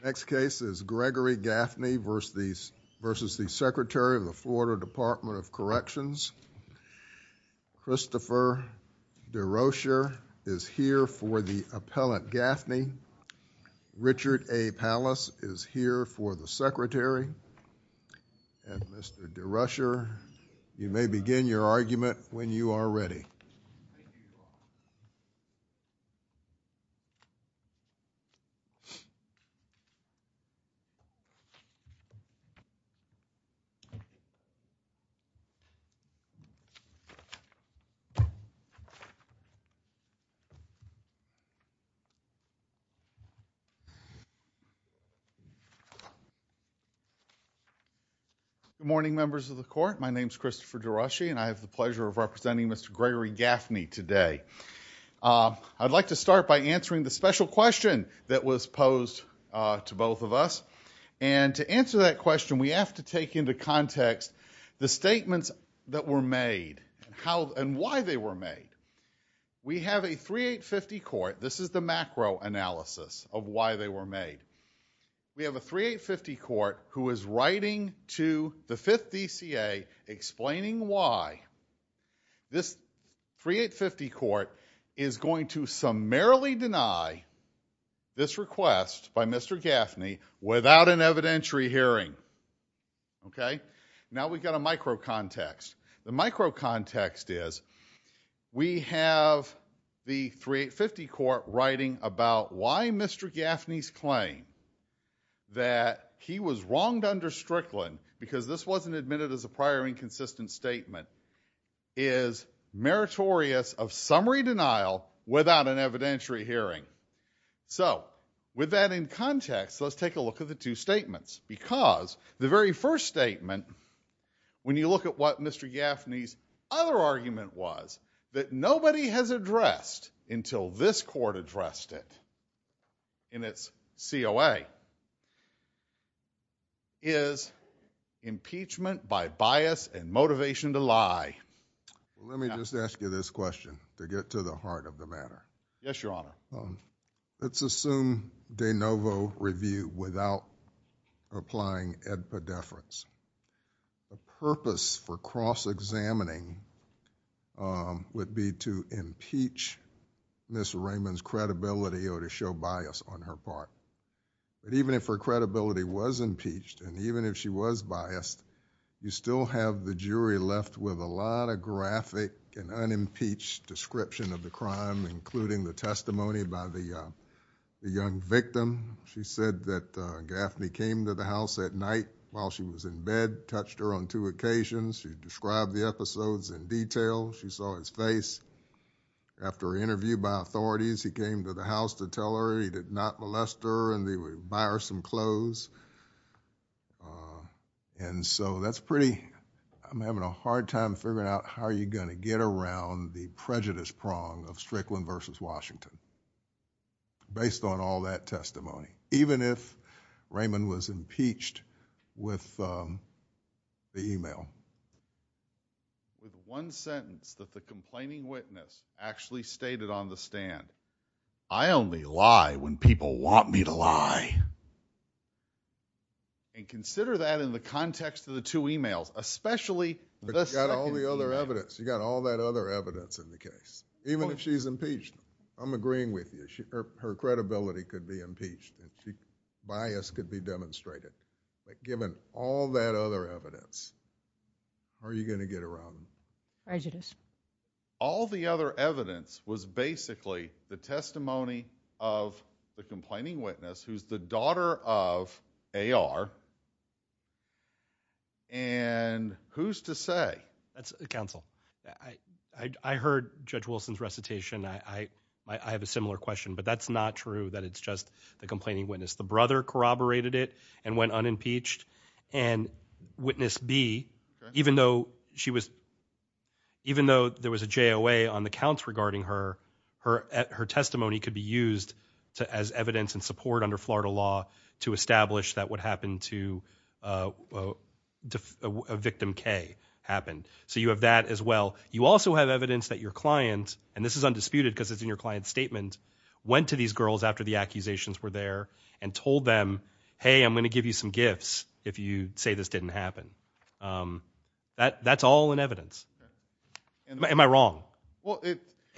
The next case is Gregory Gaffney v. the Secretary of the Florida Department of Corrections. Christopher DeRocher is here for the appellant Gaffney. Richard A. Pallas is here for the Secretary. And Mr. DeRocher, you may begin your argument when you are ready. Good morning, members of the court. My name is Christopher DeRocher, and I have the pleasure of representing Mr. Gregory Gaffney today. I'd like to start by answering the special question that was posed to both of us. And to answer that question, we have to take into context the statements that were made and why they were made. We have a 3850 court. This is the macro analysis of why they were made. We have a 3850 court who is writing to the 5th DCA explaining why this 3850 court is going to summarily deny this request by Mr. Gaffney without an evidentiary hearing. Now we've got a micro context. The micro context is we have the 3850 court writing about why Mr. Gaffney's claim that he was wronged under Strickland, because this wasn't admitted as a prior inconsistent statement, is meritorious of summary denial without an evidentiary hearing. So with that in context, let's take a look at the two statements, because the very first statement, when you look at what Mr. Gaffney's other argument was, that nobody has addressed until this court addressed it in its COA, is impeachment by bias and motivation to lie. Let me just ask you this question to get to the heart of the matter. Yes, Your Honor. Let's assume de novo review without applying epideference. The purpose for cross-examining would be to impeach Ms. Raymond's credibility or to show bias on her part. Even if her credibility was impeached and even if she was biased, you still have the jury left with a lot of graphic and unimpeached description of the crime, including the testimony by the young victim. She said that Gaffney came to the house at night while she was in bed, touched her on two occasions. She described the episodes in detail. She saw his face. After an interview by authorities, he came to the house to tell her he did not molest her and he would buy her some clothes. And so that's pretty—I'm having a hard time figuring out how you're going to get around the prejudice prong of Strickland v. Washington, based on all that testimony, even if Raymond was impeached with the email. There's one sentence that the complaining witness actually stated on the stand. I only lie when people want me to lie. And consider that in the context of the two emails, especially the second email. But you've got all the other evidence. You've got all that other evidence in the case, even if she's impeached. I'm agreeing with you. Her credibility could be impeached. Her bias could be demonstrated. But given all that other evidence, how are you going to get around it? Prejudice. All the other evidence was basically the testimony of the complaining witness, who's the daughter of A.R., and who's to say? Counsel, I heard Judge Wilson's recitation. I have a similar question, but that's not true that it's just the complaining witness. The brother corroborated it and went unimpeached. And Witness B, even though there was a JOA on the counts regarding her, her testimony could be used as evidence and support under Florida law to establish that what happened to Victim K happened. So you have that as well. You also have evidence that your client, and this is undisputed because it's in your client's statement, went to these girls after the accusations were there and told them, hey, I'm going to give you some gifts if you say this didn't happen. That's all in evidence. Am I wrong?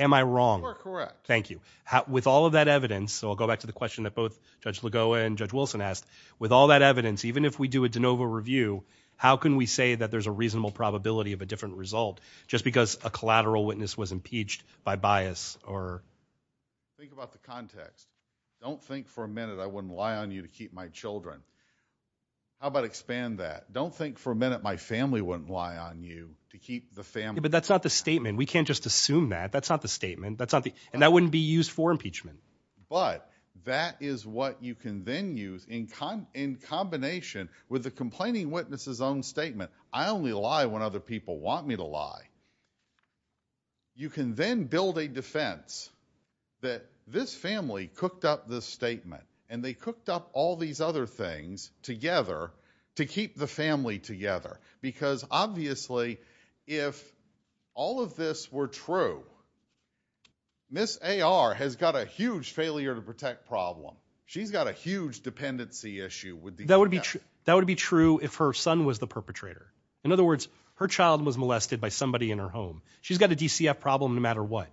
Am I wrong? You are correct. Thank you. With all of that evidence, so I'll go back to the question that both Judge Lagoa and Judge Wilson asked, with all that evidence, even if we do a de novo review, how can we say that there's a reasonable probability of a different result just because a collateral witness was impeached by bias? Think about the context. Don't think for a minute I wouldn't lie on you to keep my children. How about expand that? Don't think for a minute my family wouldn't lie on you to keep the family. But that's not the statement. We can't just assume that. That's not the statement. And that wouldn't be used for impeachment. But that is what you can then use in combination with the complaining witness's own statement, I only lie when other people want me to lie. You can then build a defense that this family cooked up this statement, and they cooked up all these other things together to keep the family together. Because, obviously, if all of this were true, Ms. A.R. has got a huge failure to protect problem. She's got a huge dependency issue. That would be true if her son was the perpetrator. In other words, her child was molested by somebody in her home. She's got a DCF problem no matter what.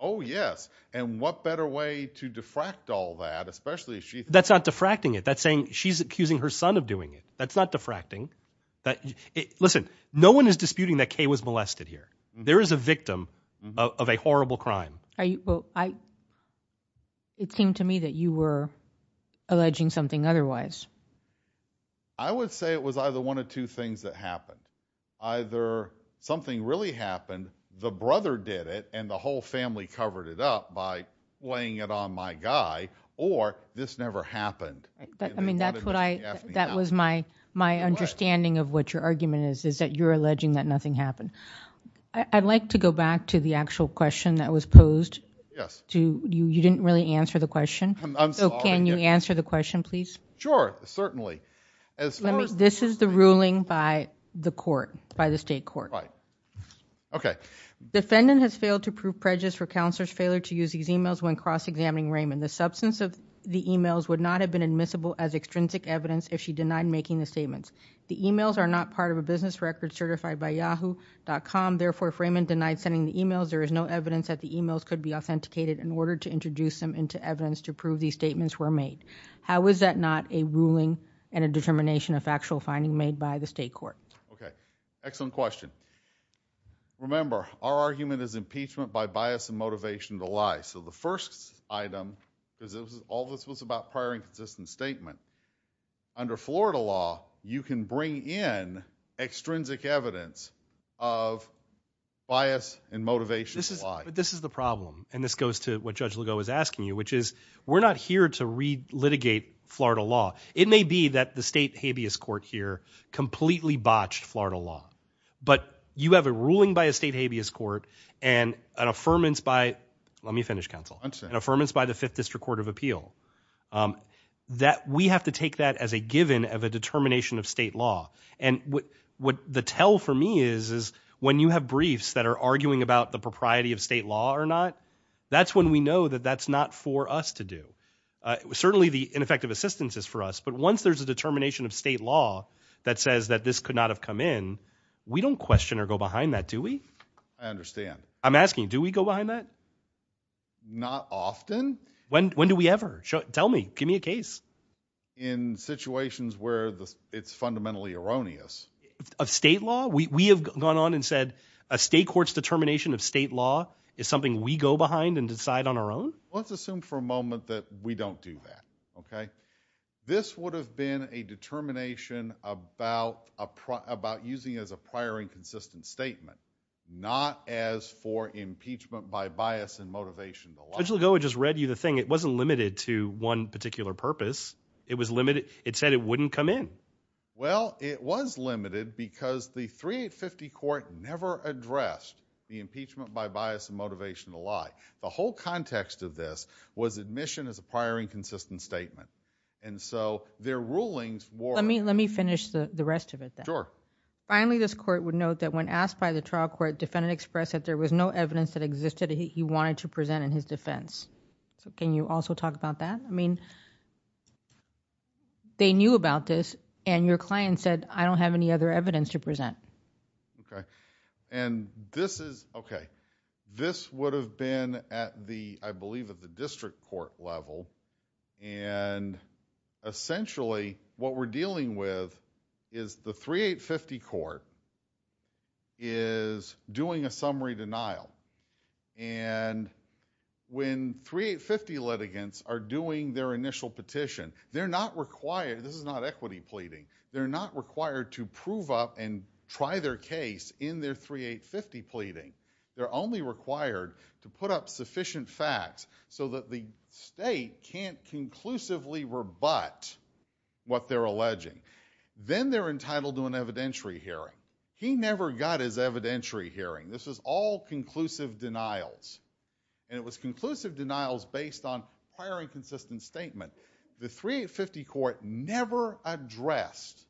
Oh, yes. And what better way to diffract all that, especially if she... That's not diffracting it. That's saying she's accusing her son of doing it. That's not diffracting. Listen, no one is disputing that Kay was molested here. There is a victim of a horrible crime. It seemed to me that you were alleging something otherwise. I would say it was either one of two things that happened. Either something really happened, the brother did it, and the whole family covered it up by laying it on my guy, or this never happened. I mean, that was my understanding of what your argument is, is that you're alleging that nothing happened. I'd like to go back to the actual question that was posed. Yes. You didn't really answer the question. I'm sorry. Can you answer the question, please? Sure, certainly. This is the ruling by the court, by the state court. Right. Okay. Defendant has failed to prove prejudice for counselor's failure to use these emails when cross-examining Raymond. The substance of the emails would not have been admissible as extrinsic evidence if she denied making the statements. The emails are not part of a business record certified by Yahoo.com. Therefore, if Raymond denied sending the emails, there is no evidence that the emails could be authenticated in order to introduce them into evidence to prove these statements were made. How is that not a ruling and a determination of factual finding made by the state court? Okay. Excellent question. Remember, our argument is impeachment by bias and motivation to lie. So the first item, because all this was about prior and consistent statement, under Florida law, you can bring in extrinsic evidence of bias and motivation to lie. But this is the problem, and this goes to what Judge Legault was asking you, which is we're not here to re-litigate Florida law. It may be that the state habeas court here completely botched Florida law, but you have a ruling by a state habeas court and an affirmance by— I understand. —an affirmance by the Fifth District Court of Appeal. We have to take that as a given of a determination of state law. And what the tell for me is is when you have briefs that are arguing about the propriety of state law or not, that's when we know that that's not for us to do. Certainly the ineffective assistance is for us, but once there's a determination of state law that says that this could not have come in, we don't question or go behind that, do we? I understand. I'm asking, do we go behind that? Not often. When do we ever? Tell me. Give me a case. In situations where it's fundamentally erroneous. Of state law? We have gone on and said a state court's determination of state law is something we go behind and decide on our own? Let's assume for a moment that we don't do that, okay? This would have been a determination about using it as a prior and consistent statement, not as for impeachment by bias and motivation to lie. Judge Legoa just read you the thing. It wasn't limited to one particular purpose. It was limited. It said it wouldn't come in. Well, it was limited because the 3850 court never addressed the impeachment by bias and motivation to lie. The whole context of this was admission as a prior and consistent statement. And so their rulings were Let me finish the rest of it then. Sure. Finally, this court would note that when asked by the trial court, defendant expressed that there was no evidence that existed he wanted to present in his defense. Can you also talk about that? I mean, they knew about this, and your client said, I don't have any other evidence to present. Okay. And this is, okay. This would have been at the, I believe, at the district court level. And essentially, what we're dealing with is the 3850 court is doing a summary denial. And when 3850 litigants are doing their initial petition, they're not required, this is not equity pleading, they're not required to prove up and try their case in their 3850 pleading. They're only required to put up sufficient facts so that the state can't conclusively rebut what they're alleging. Then they're entitled to an evidentiary hearing. He never got his evidentiary hearing. This was all conclusive denials. And it was conclusive denials based on prior and consistent statement. The 3850 court never addressed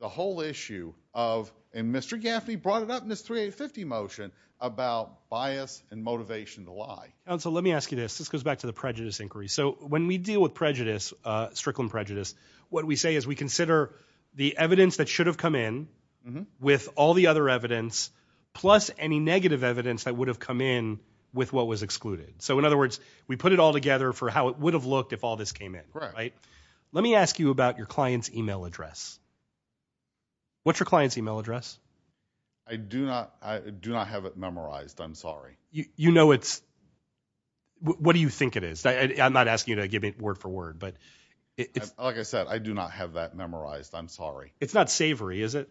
the whole issue of, and Mr. Gaffney brought it up in his 3850 motion, about bias and motivation to lie. Counsel, let me ask you this. This goes back to the prejudice inquiry. So when we deal with prejudice, Strickland prejudice, what we say is we consider the evidence that should have come in with all the other evidence, plus any negative evidence that would have come in with what was excluded. So in other words, we put it all together for how it would have looked if all this came in. Let me ask you about your client's e-mail address. What's your client's e-mail address? I do not have it memorized, I'm sorry. You know it's, what do you think it is? I'm not asking you to give me word for word. Like I said, I do not have that memorized, I'm sorry. It's not savory, is it?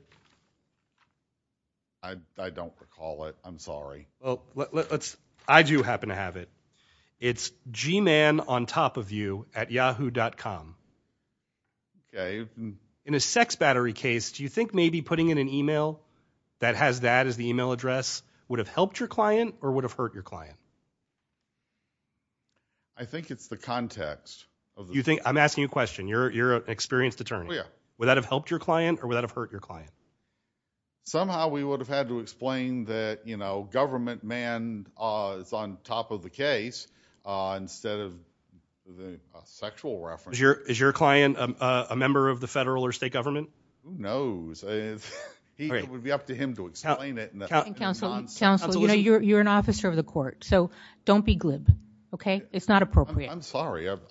I don't recall it, I'm sorry. I do happen to have it. It's gmanontopofyouatyahoo.com. In a sex battery case, do you think maybe putting in an e-mail that has that as the e-mail address would have helped your client or would have hurt your client? I think it's the context. I'm asking you a question. You're an experienced attorney. Would that have helped your client or would that have hurt your client? Somehow we would have had to explain that government man is on top of the case instead of a sexual reference. Is your client a member of the federal or state government? Who knows? It would be up to him to explain it. Counsel, you're an officer of the court, so don't be glib, okay? It's not appropriate. I'm sorry, I'm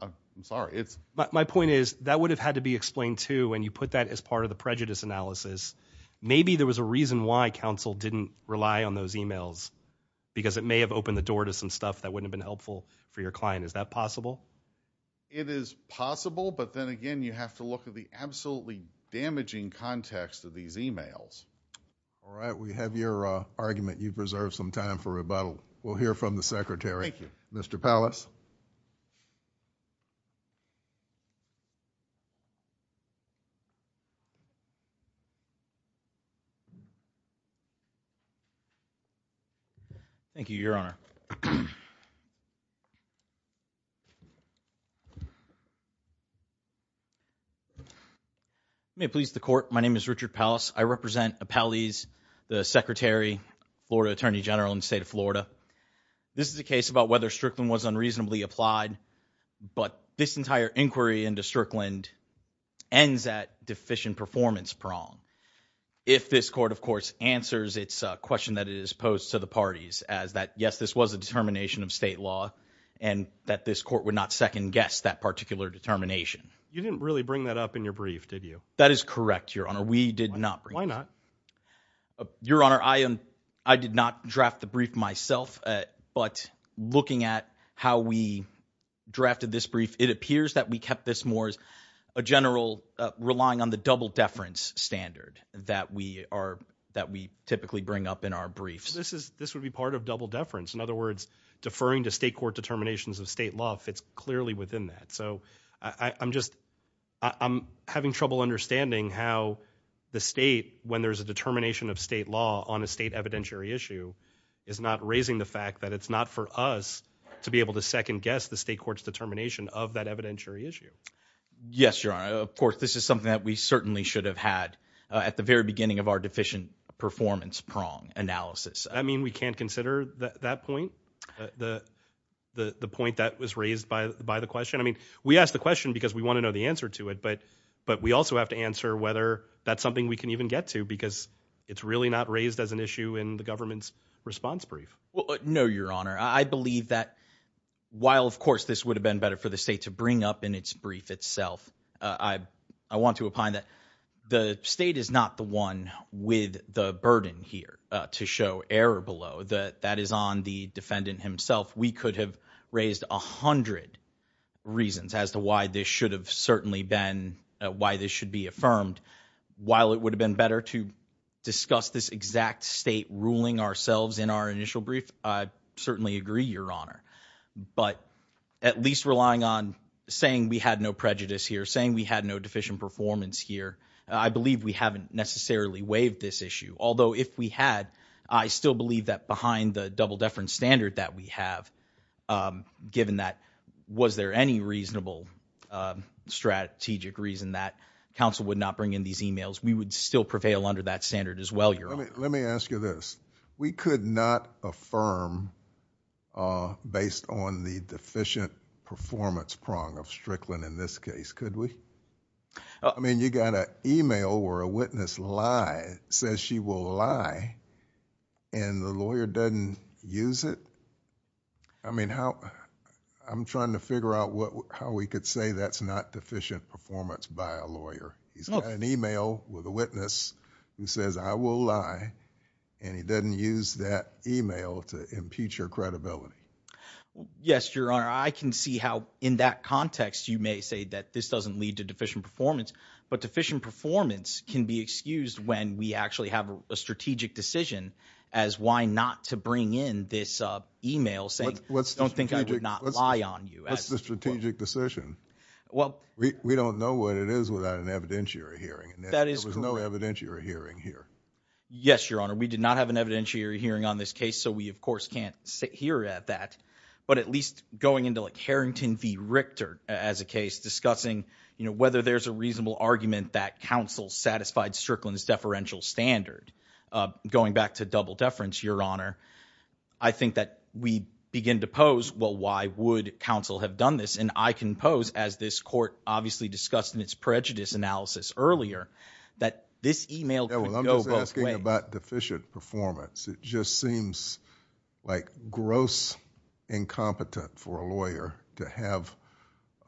sorry. My point is that would have had to be explained too and you put that as part of the prejudice analysis. Maybe there was a reason why counsel didn't rely on those e-mails because it may have opened the door to some stuff that wouldn't have been helpful for your client. Is that possible? It is possible, but then again you have to look at the absolutely damaging context of these e-mails. All right, we have your argument. You've reserved some time for rebuttal. We'll hear from the secretary. Thank you. Mr. Pallas. Thank you, Your Honor. May it please the court. My name is Richard Pallas. I represent Appellees, the Secretary, Florida Attorney General in the state of Florida. This is a case about whether Strickland was unreasonably applied, but this entire inquiry into Strickland ends at deficient performance prong. If this court, of course, answers its question that is posed to the parties as that, yes, this was a determination of state law and that this court would not second guess that particular determination. You didn't really bring that up in your brief, did you? That is correct, Your Honor. We did not. Why not? Your Honor, I did not draft the brief myself, but looking at how we drafted this brief, it appears that we kept this more as a general relying on the double deference standard that we typically bring up in our briefs. This would be part of double deference. In other words, deferring to state court determinations of state law fits clearly within that. I'm having trouble understanding how the state, when there's a determination of state law on a state evidentiary issue, is not raising the fact that it's not for us to be able to second guess the state court's determination of that evidentiary issue. Yes, Your Honor. Of course, this is something that we certainly should have had at the very beginning of our deficient performance prong analysis. We can't consider that point, the point that was raised by the question. We asked the question because we want to know the answer to it, but we also have to answer whether that's something we can even get to because it's really not raised as an issue in the government's response brief. No, Your Honor. I believe that while, of course, this would have been better for the state to bring up in its brief itself, I want to opine that the state is not the one with the burden here to show error below. That is on the defendant himself. We could have raised 100 reasons as to why this should have certainly been, why this should be affirmed. While it would have been better to discuss this exact state ruling ourselves in our initial brief, I certainly agree, Your Honor. But at least relying on saying we had no prejudice here, saying we had no deficient performance here, I believe we haven't necessarily waived this issue. Although if we had, I still believe that behind the double-deference standard that we have, given that was there any reasonable strategic reason that counsel would not bring in these emails, we would still prevail under that standard as well, Your Honor. Let me ask you this. We could not affirm based on the deficient performance prong of Strickland in this case, could we? I mean, you got an email where a witness lied, says she will lie, and the lawyer doesn't use it? I mean, I'm trying to figure out how we could say that's not deficient performance by a lawyer. He's got an email with a witness who says, I will lie, and he doesn't use that email to impute your credibility. Yes, Your Honor. I can see how in that context you may say that this doesn't lead to deficient performance, but deficient performance can be excused when we actually have a strategic decision as why not to bring in this email saying, I don't think I would not lie on you. What's the strategic decision? We don't know what it is without an evidentiary hearing. There was no evidentiary hearing here. Yes, Your Honor. We did not have an evidentiary hearing on this case, so we, of course, can't sit here at that. But at least going into like Harrington v. Richter as a case discussing, you know, whether there's a reasonable argument that counsel satisfied Strickland's deferential standard. Going back to double deference, Your Honor, I think that we begin to pose, well, why would counsel have done this? And I can pose, as this court obviously discussed in its prejudice analysis earlier, that this email could go both ways. I'm not talking about deficient performance. It just seems like gross incompetence for a lawyer to have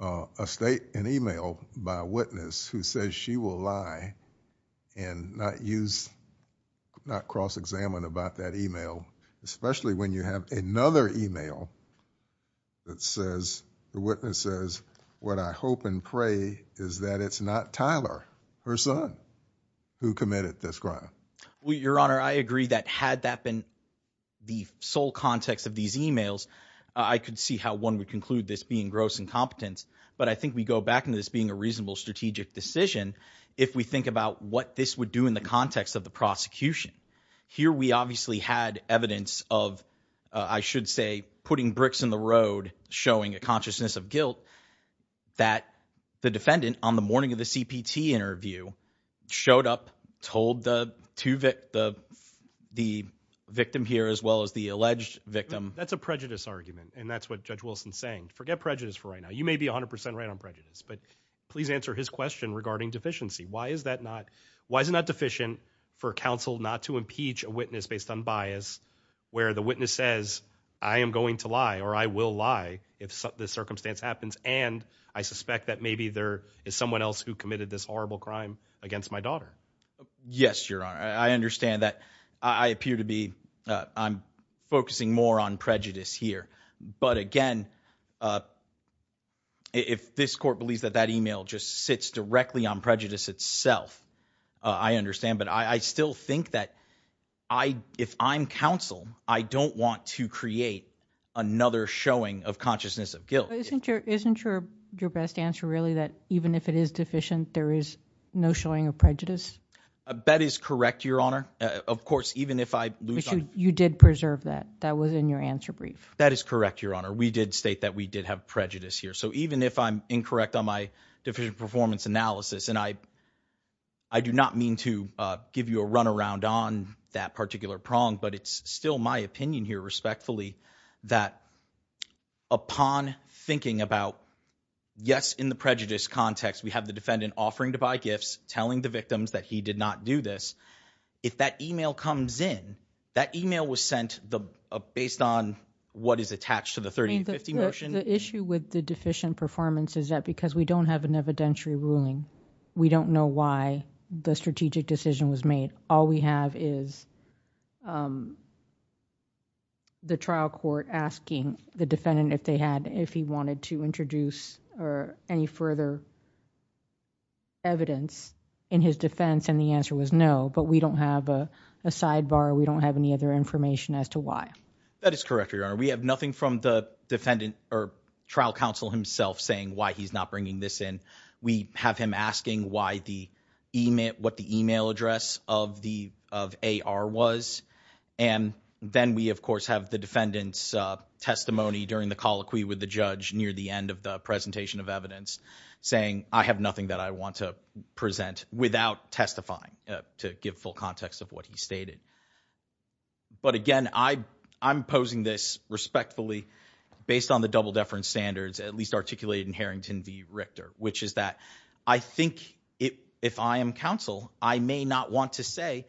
an email by a witness who says she will lie and not cross-examine about that email, especially when you have another email that says, the witness says, what I hope and pray is that it's not Tyler, her son, who committed this crime. Well, Your Honor, I agree that had that been the sole context of these emails, I could see how one would conclude this being gross incompetence. But I think we go back to this being a reasonable strategic decision if we think about what this would do in the context of the prosecution. Here we obviously had evidence of, I should say, putting bricks in the road, showing a consciousness of guilt, that the defendant on the morning of the CPT interview showed up, told the victim here as well as the alleged victim. That's a prejudice argument, and that's what Judge Wilson is saying. Forget prejudice for right now. You may be 100 percent right on prejudice. But please answer his question regarding deficiency. Why is it not deficient for counsel not to impeach a witness based on bias where the witness says, I am going to lie or I will lie if this circumstance happens, and I suspect that maybe there is someone else who committed this horrible crime against my daughter? Yes, Your Honor, I understand that. I appear to be focusing more on prejudice here. But again, if this court believes that that email just sits directly on prejudice itself, I understand. But I still think that if I'm counsel, I don't want to create another showing of consciousness of guilt. Isn't your best answer really that even if it is deficient, there is no showing of prejudice? That is correct, Your Honor. Of course, even if I lose – You did preserve that. That was in your answer brief. That is correct, Your Honor. We did state that we did have prejudice here. So even if I'm incorrect on my deficient performance analysis, and I do not mean to give you a runaround on that particular prong, but it's still my opinion here respectfully that upon thinking about, yes, in the prejudice context, we have the defendant offering to buy gifts, telling the victims that he did not do this. If that email comes in, that email was sent based on what is attached to the 3050 motion. The issue with the deficient performance is that because we don't have an evidentiary ruling, we don't know why the strategic decision was made. All we have is the trial court asking the defendant if they had – if he wanted to introduce any further evidence in his defense, and the answer was no. But we don't have a sidebar. We don't have any other information as to why. That is correct, Your Honor. We have nothing from the defendant or trial counsel himself saying why he's not bringing this in. We have him asking why the – what the email address of AR was. And then we, of course, have the defendant's testimony during the colloquy with the judge near the end of the presentation of evidence, saying I have nothing that I want to present without testifying to give full context of what he stated. But again, I'm posing this respectfully based on the double-deference standards at least articulated in Harrington v. Richter, which is that I think if I am counsel, I may not want to say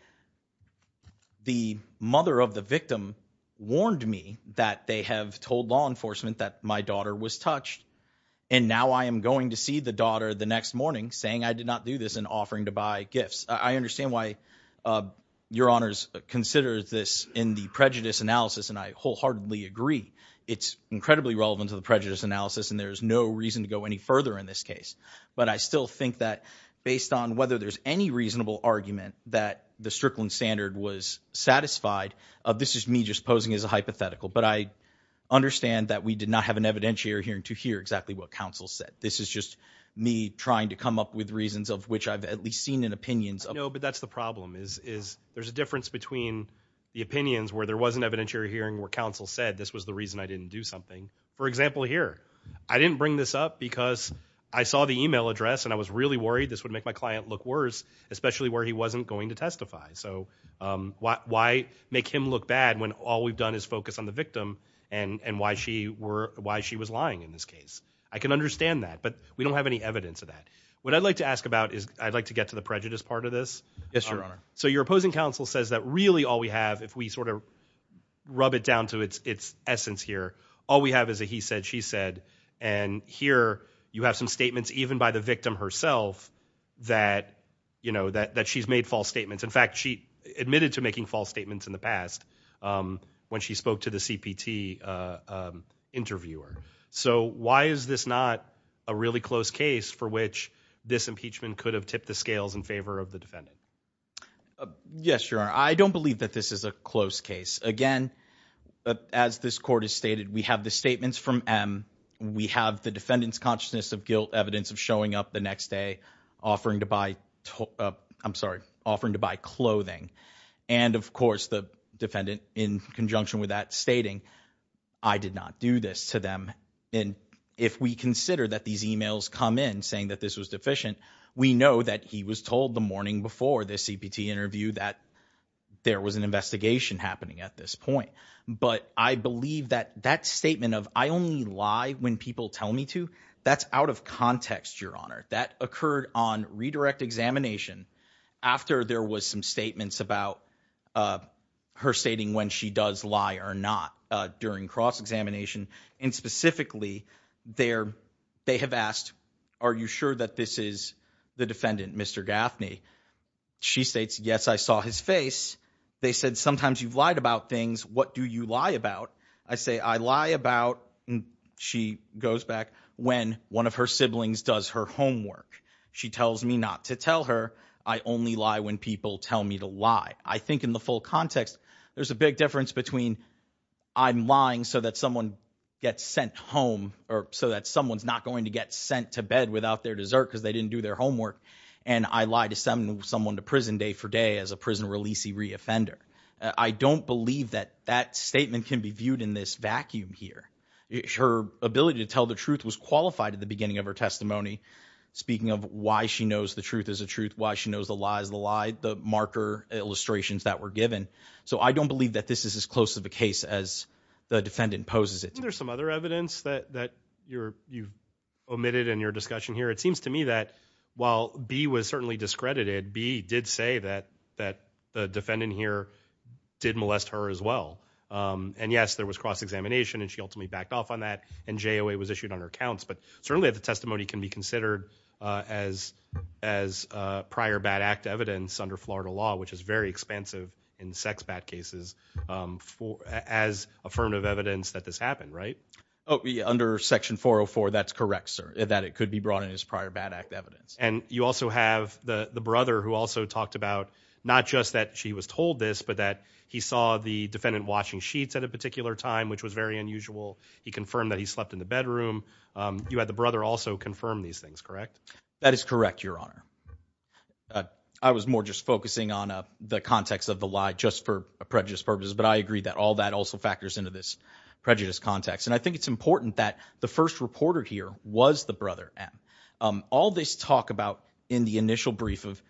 the mother of the victim warned me that they have told law enforcement that my daughter was touched, and now I am going to see the daughter the next morning saying I did not do this and offering to buy gifts. I understand why Your Honors consider this in the prejudice analysis, and I wholeheartedly agree. It's incredibly relevant to the prejudice analysis, and there's no reason to go any further in this case. But I still think that based on whether there's any reasonable argument that the Strickland standard was satisfied, this is me just posing as a hypothetical, but I understand that we did not have an evidentiary hearing to hear exactly what counsel said. This is just me trying to come up with reasons of which I've at least seen in opinions. No, but that's the problem is there's a difference between the opinions where there was an evidentiary hearing where counsel said this was the reason I didn't do something. For example, here, I didn't bring this up because I saw the email address, and I was really worried this would make my client look worse, especially where he wasn't going to testify. So why make him look bad when all we've done is focus on the victim and why she was lying in this case? I can understand that, but we don't have any evidence of that. What I'd like to ask about is I'd like to get to the prejudice part of this. Yes, Your Honor. So your opposing counsel says that really all we have, if we sort of rub it down to its essence here, all we have is a he said, she said. And here you have some statements even by the victim herself that, you know, that she's made false statements. In fact, she admitted to making false statements in the past when she spoke to the CPT interviewer. So why is this not a really close case for which this impeachment could have tipped the scales in favor of the defendant? Yes, Your Honor. I don't believe that this is a close case. Again, as this court has stated, we have the statements from M. We have the defendant's consciousness of guilt, evidence of showing up the next day, offering to buy. I'm sorry. Offering to buy clothing. And of course, the defendant, in conjunction with that, stating I did not do this to them. And if we consider that these emails come in saying that this was deficient, we know that he was told the morning before the CPT interview that there was an investigation happening at this point. But I believe that that statement of I only lie when people tell me to. That's out of context, Your Honor. That occurred on redirect examination after there was some statements about her stating when she does lie or not during cross examination. And specifically there they have asked, are you sure that this is the defendant, Mr. Gaffney? She states, yes, I saw his face. They said, sometimes you've lied about things. What do you lie about? I say I lie about she goes back when one of her siblings does her homework. She tells me not to tell her. I only lie when people tell me to lie. I think in the full context, there's a big difference between I'm lying so that someone gets sent home or so that someone's not going to get sent to bed without their dessert because they didn't do their homework. And I lie to someone to prison day for day as a prison release. He reoffended. I don't believe that that statement can be viewed in this vacuum here. Her ability to tell the truth was qualified at the beginning of her testimony. Speaking of why she knows the truth is a truth, why she knows the lies, the lie, the marker illustrations that were given. So I don't believe that this is as close to the case as the defendant poses it. There's some other evidence that that you're you omitted in your discussion here. It seems to me that while B was certainly discredited, B did say that that the defendant here did molest her as well. And yes, there was cross examination and she ultimately backed off on that. And J.O.A. was issued on her counts. But certainly the testimony can be considered as as prior bad act evidence under Florida law, which is very expansive in sex bad cases as affirmative evidence that this happened. Under Section 404, that's correct, sir, that it could be brought in as prior bad act evidence. And you also have the brother who also talked about not just that she was told this, but that he saw the defendant watching sheets at a particular time, which was very unusual. He confirmed that he slept in the bedroom. You had the brother also confirm these things, correct? That is correct, Your Honor. I was more just focusing on the context of the lie just for a prejudice purpose. But I agree that all that also factors into this prejudice context. And I think it's important that the first reporter here was the brother. And all this talk about in the initial brief of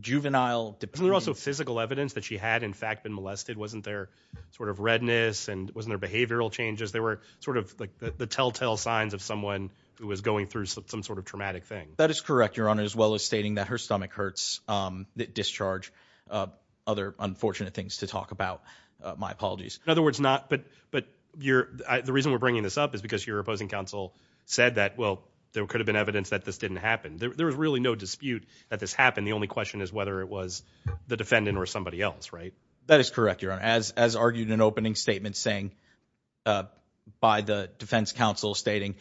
juvenile. There were also physical evidence that she had, in fact, been molested. Wasn't there sort of redness and wasn't there behavioral changes? They were sort of like the telltale signs of someone who was going through some sort of traumatic thing. That is correct, Your Honor, as well as stating that her stomach hurts, that discharge, other unfortunate things to talk about. My apologies. In other words, not but but you're the reason we're bringing this up is because your opposing counsel said that, well, there could have been evidence that this didn't happen. There was really no dispute that this happened. The only question is whether it was the defendant or somebody else. Right. That is correct. Your Honor, as as argued an opening statement saying by the defense counsel stating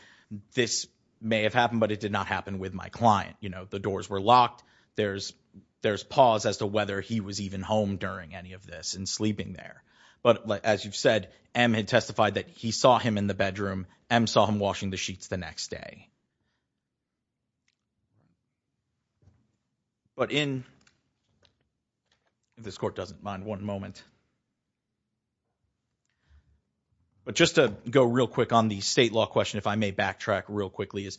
this may have happened, but it did not happen with my client. You know, the doors were locked. There's there's pause as to whether he was even home during any of this and sleeping there. But as you've said, M had testified that he saw him in the bedroom and saw him washing the sheets the next day. But in. This court doesn't mind one moment. But just to go real quick on the state law question, if I may backtrack real quickly, is.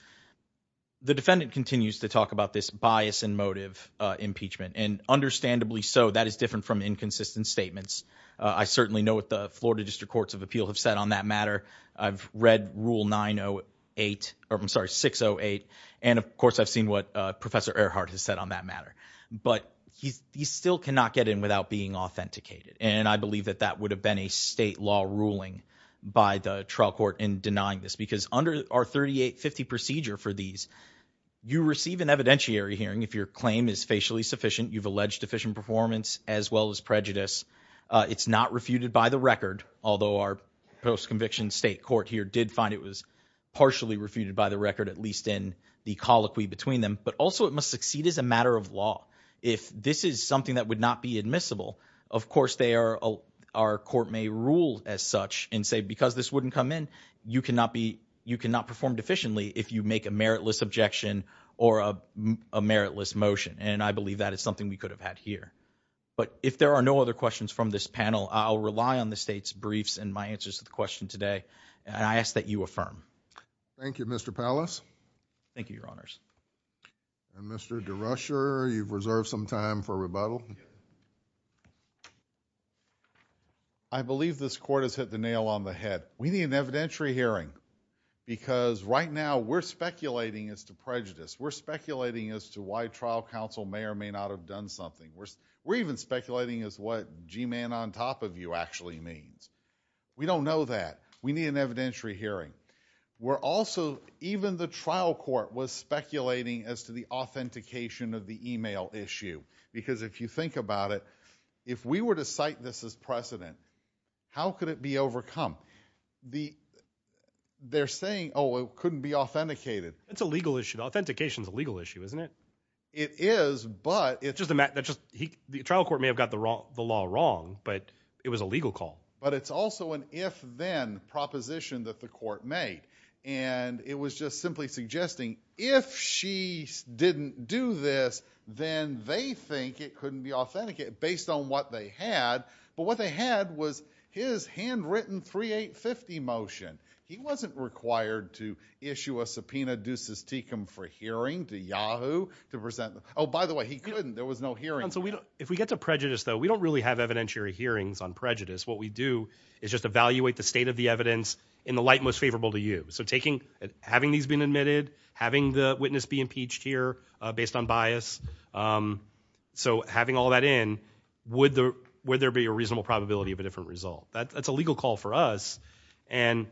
The defendant continues to talk about this bias and motive impeachment, and understandably so. That is different from inconsistent statements. I certainly know what the Florida District Courts of Appeal have said on that matter. I've read rule 908 or I'm sorry, 608. And of course, I've seen what Professor Earhart has said on that matter. But he's he still cannot get in without being authenticated. And I believe that that would have been a state law ruling by the trial court in denying this, because under our 3850 procedure for these, you receive an evidentiary hearing. If your claim is facially sufficient, you've alleged deficient performance as well as prejudice. It's not refuted by the record, although our post conviction state court here did find it was partially refuted by the record, at least in the colloquy between them. But also, it must succeed as a matter of law. If this is something that would not be admissible, of course, they are. Our court may rule as such and say, because this wouldn't come in, you cannot be you cannot perform deficiently if you make a meritless objection or a meritless motion. And I believe that is something we could have had here. But if there are no other questions from this panel, I'll rely on the state's briefs and my answers to the question today. And I ask that you affirm. Thank you, Mr. Pallas. Thank you, Your Honors. And Mr. DeRusher, you've reserved some time for rebuttal. I believe this court has hit the nail on the head. We need an evidentiary hearing, because right now we're speculating as to prejudice. We're speculating as to why trial counsel may or may not have done something. We're even speculating as to what G-Man on top of you actually means. We don't know that. We need an evidentiary hearing. We're also, even the trial court was speculating as to the authentication of the email issue. Because if you think about it, if we were to cite this as precedent, how could it be overcome? They're saying, oh, it couldn't be authenticated. It's a legal issue. Authentication is a legal issue, isn't it? It is, but it's just a matter of, the trial court may have got the law wrong, but it was a legal call. But it's also an if-then proposition that the court made. And it was just simply suggesting, if she didn't do this, then they think it couldn't be authenticated, based on what they had. But what they had was his handwritten 3850 motion. He wasn't required to issue a subpoena ducis tecum for hearing to Yahoo. Oh, by the way, he couldn't. There was no hearing. If we get to prejudice, though, we don't really have evidentiary hearings on prejudice. What we do is just evaluate the state of the evidence in the light most favorable to you. So having these been admitted, having the witness be impeached here based on bias, so having all that in, would there be a reasonable probability of a different result? That's a legal call for us. And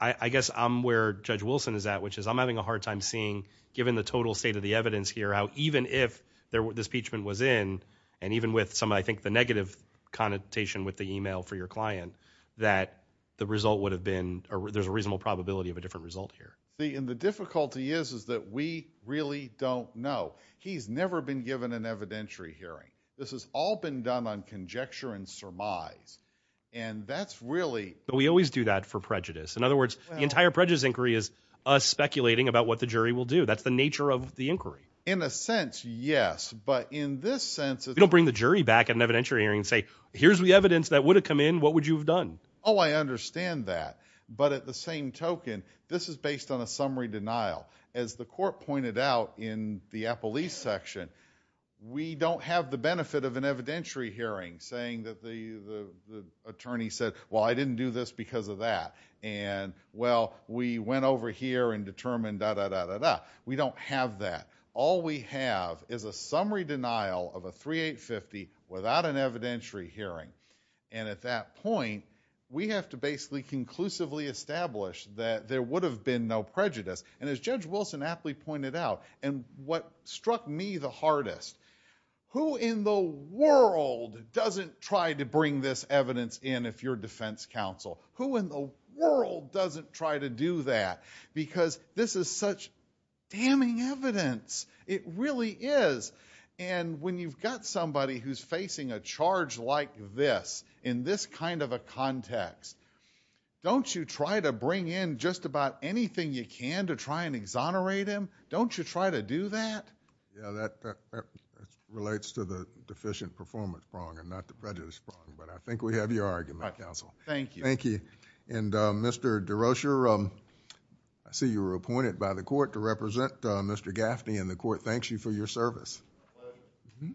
I guess I'm where Judge Wilson is at, which is I'm having a hard time seeing, given the total state of the evidence here, how even if this impeachment was in, and even with some, I think, the negative connotation with the e-mail for your client, that the result would have been, there's a reasonable probability of a different result here. And the difficulty is that we really don't know. He's never been given an evidentiary hearing. This has all been done on conjecture and surmise. And that's really... But we always do that for prejudice. In other words, the entire prejudice inquiry is us speculating about what the jury will do. That's the nature of the inquiry. In a sense, yes. But in this sense... If you don't bring the jury back at an evidentiary hearing and say, here's the evidence that would have come in, what would you have done? Oh, I understand that. But at the same token, this is based on a summary denial. As the court pointed out in the Apple East section, we don't have the benefit of an evidentiary hearing saying that the attorney said, well, I didn't do this because of that. And, well, we went over here and determined da-da-da-da-da. We don't have that. All we have is a summary denial of a 3850 without an evidentiary hearing. And at that point, we have to basically conclusively establish that there would have been no prejudice. And as Judge Wilson aptly pointed out, and what struck me the hardest, who in the world doesn't try to bring this evidence in if you're defense counsel? Who in the world doesn't try to do that? Because this is such damning evidence. It really is. And when you've got somebody who's facing a charge like this, in this kind of a context, don't you try to bring in just about anything you can to try and exonerate him? Don't you try to do that? Yeah, that relates to the deficient performance prong and not the prejudice prong. But I think we have your argument, counsel. Thank you. Thank you. And, Mr. DeRocher, I see you were appointed by the court to represent Mr. Gaffney, and the court thanks you for your service. My pleasure.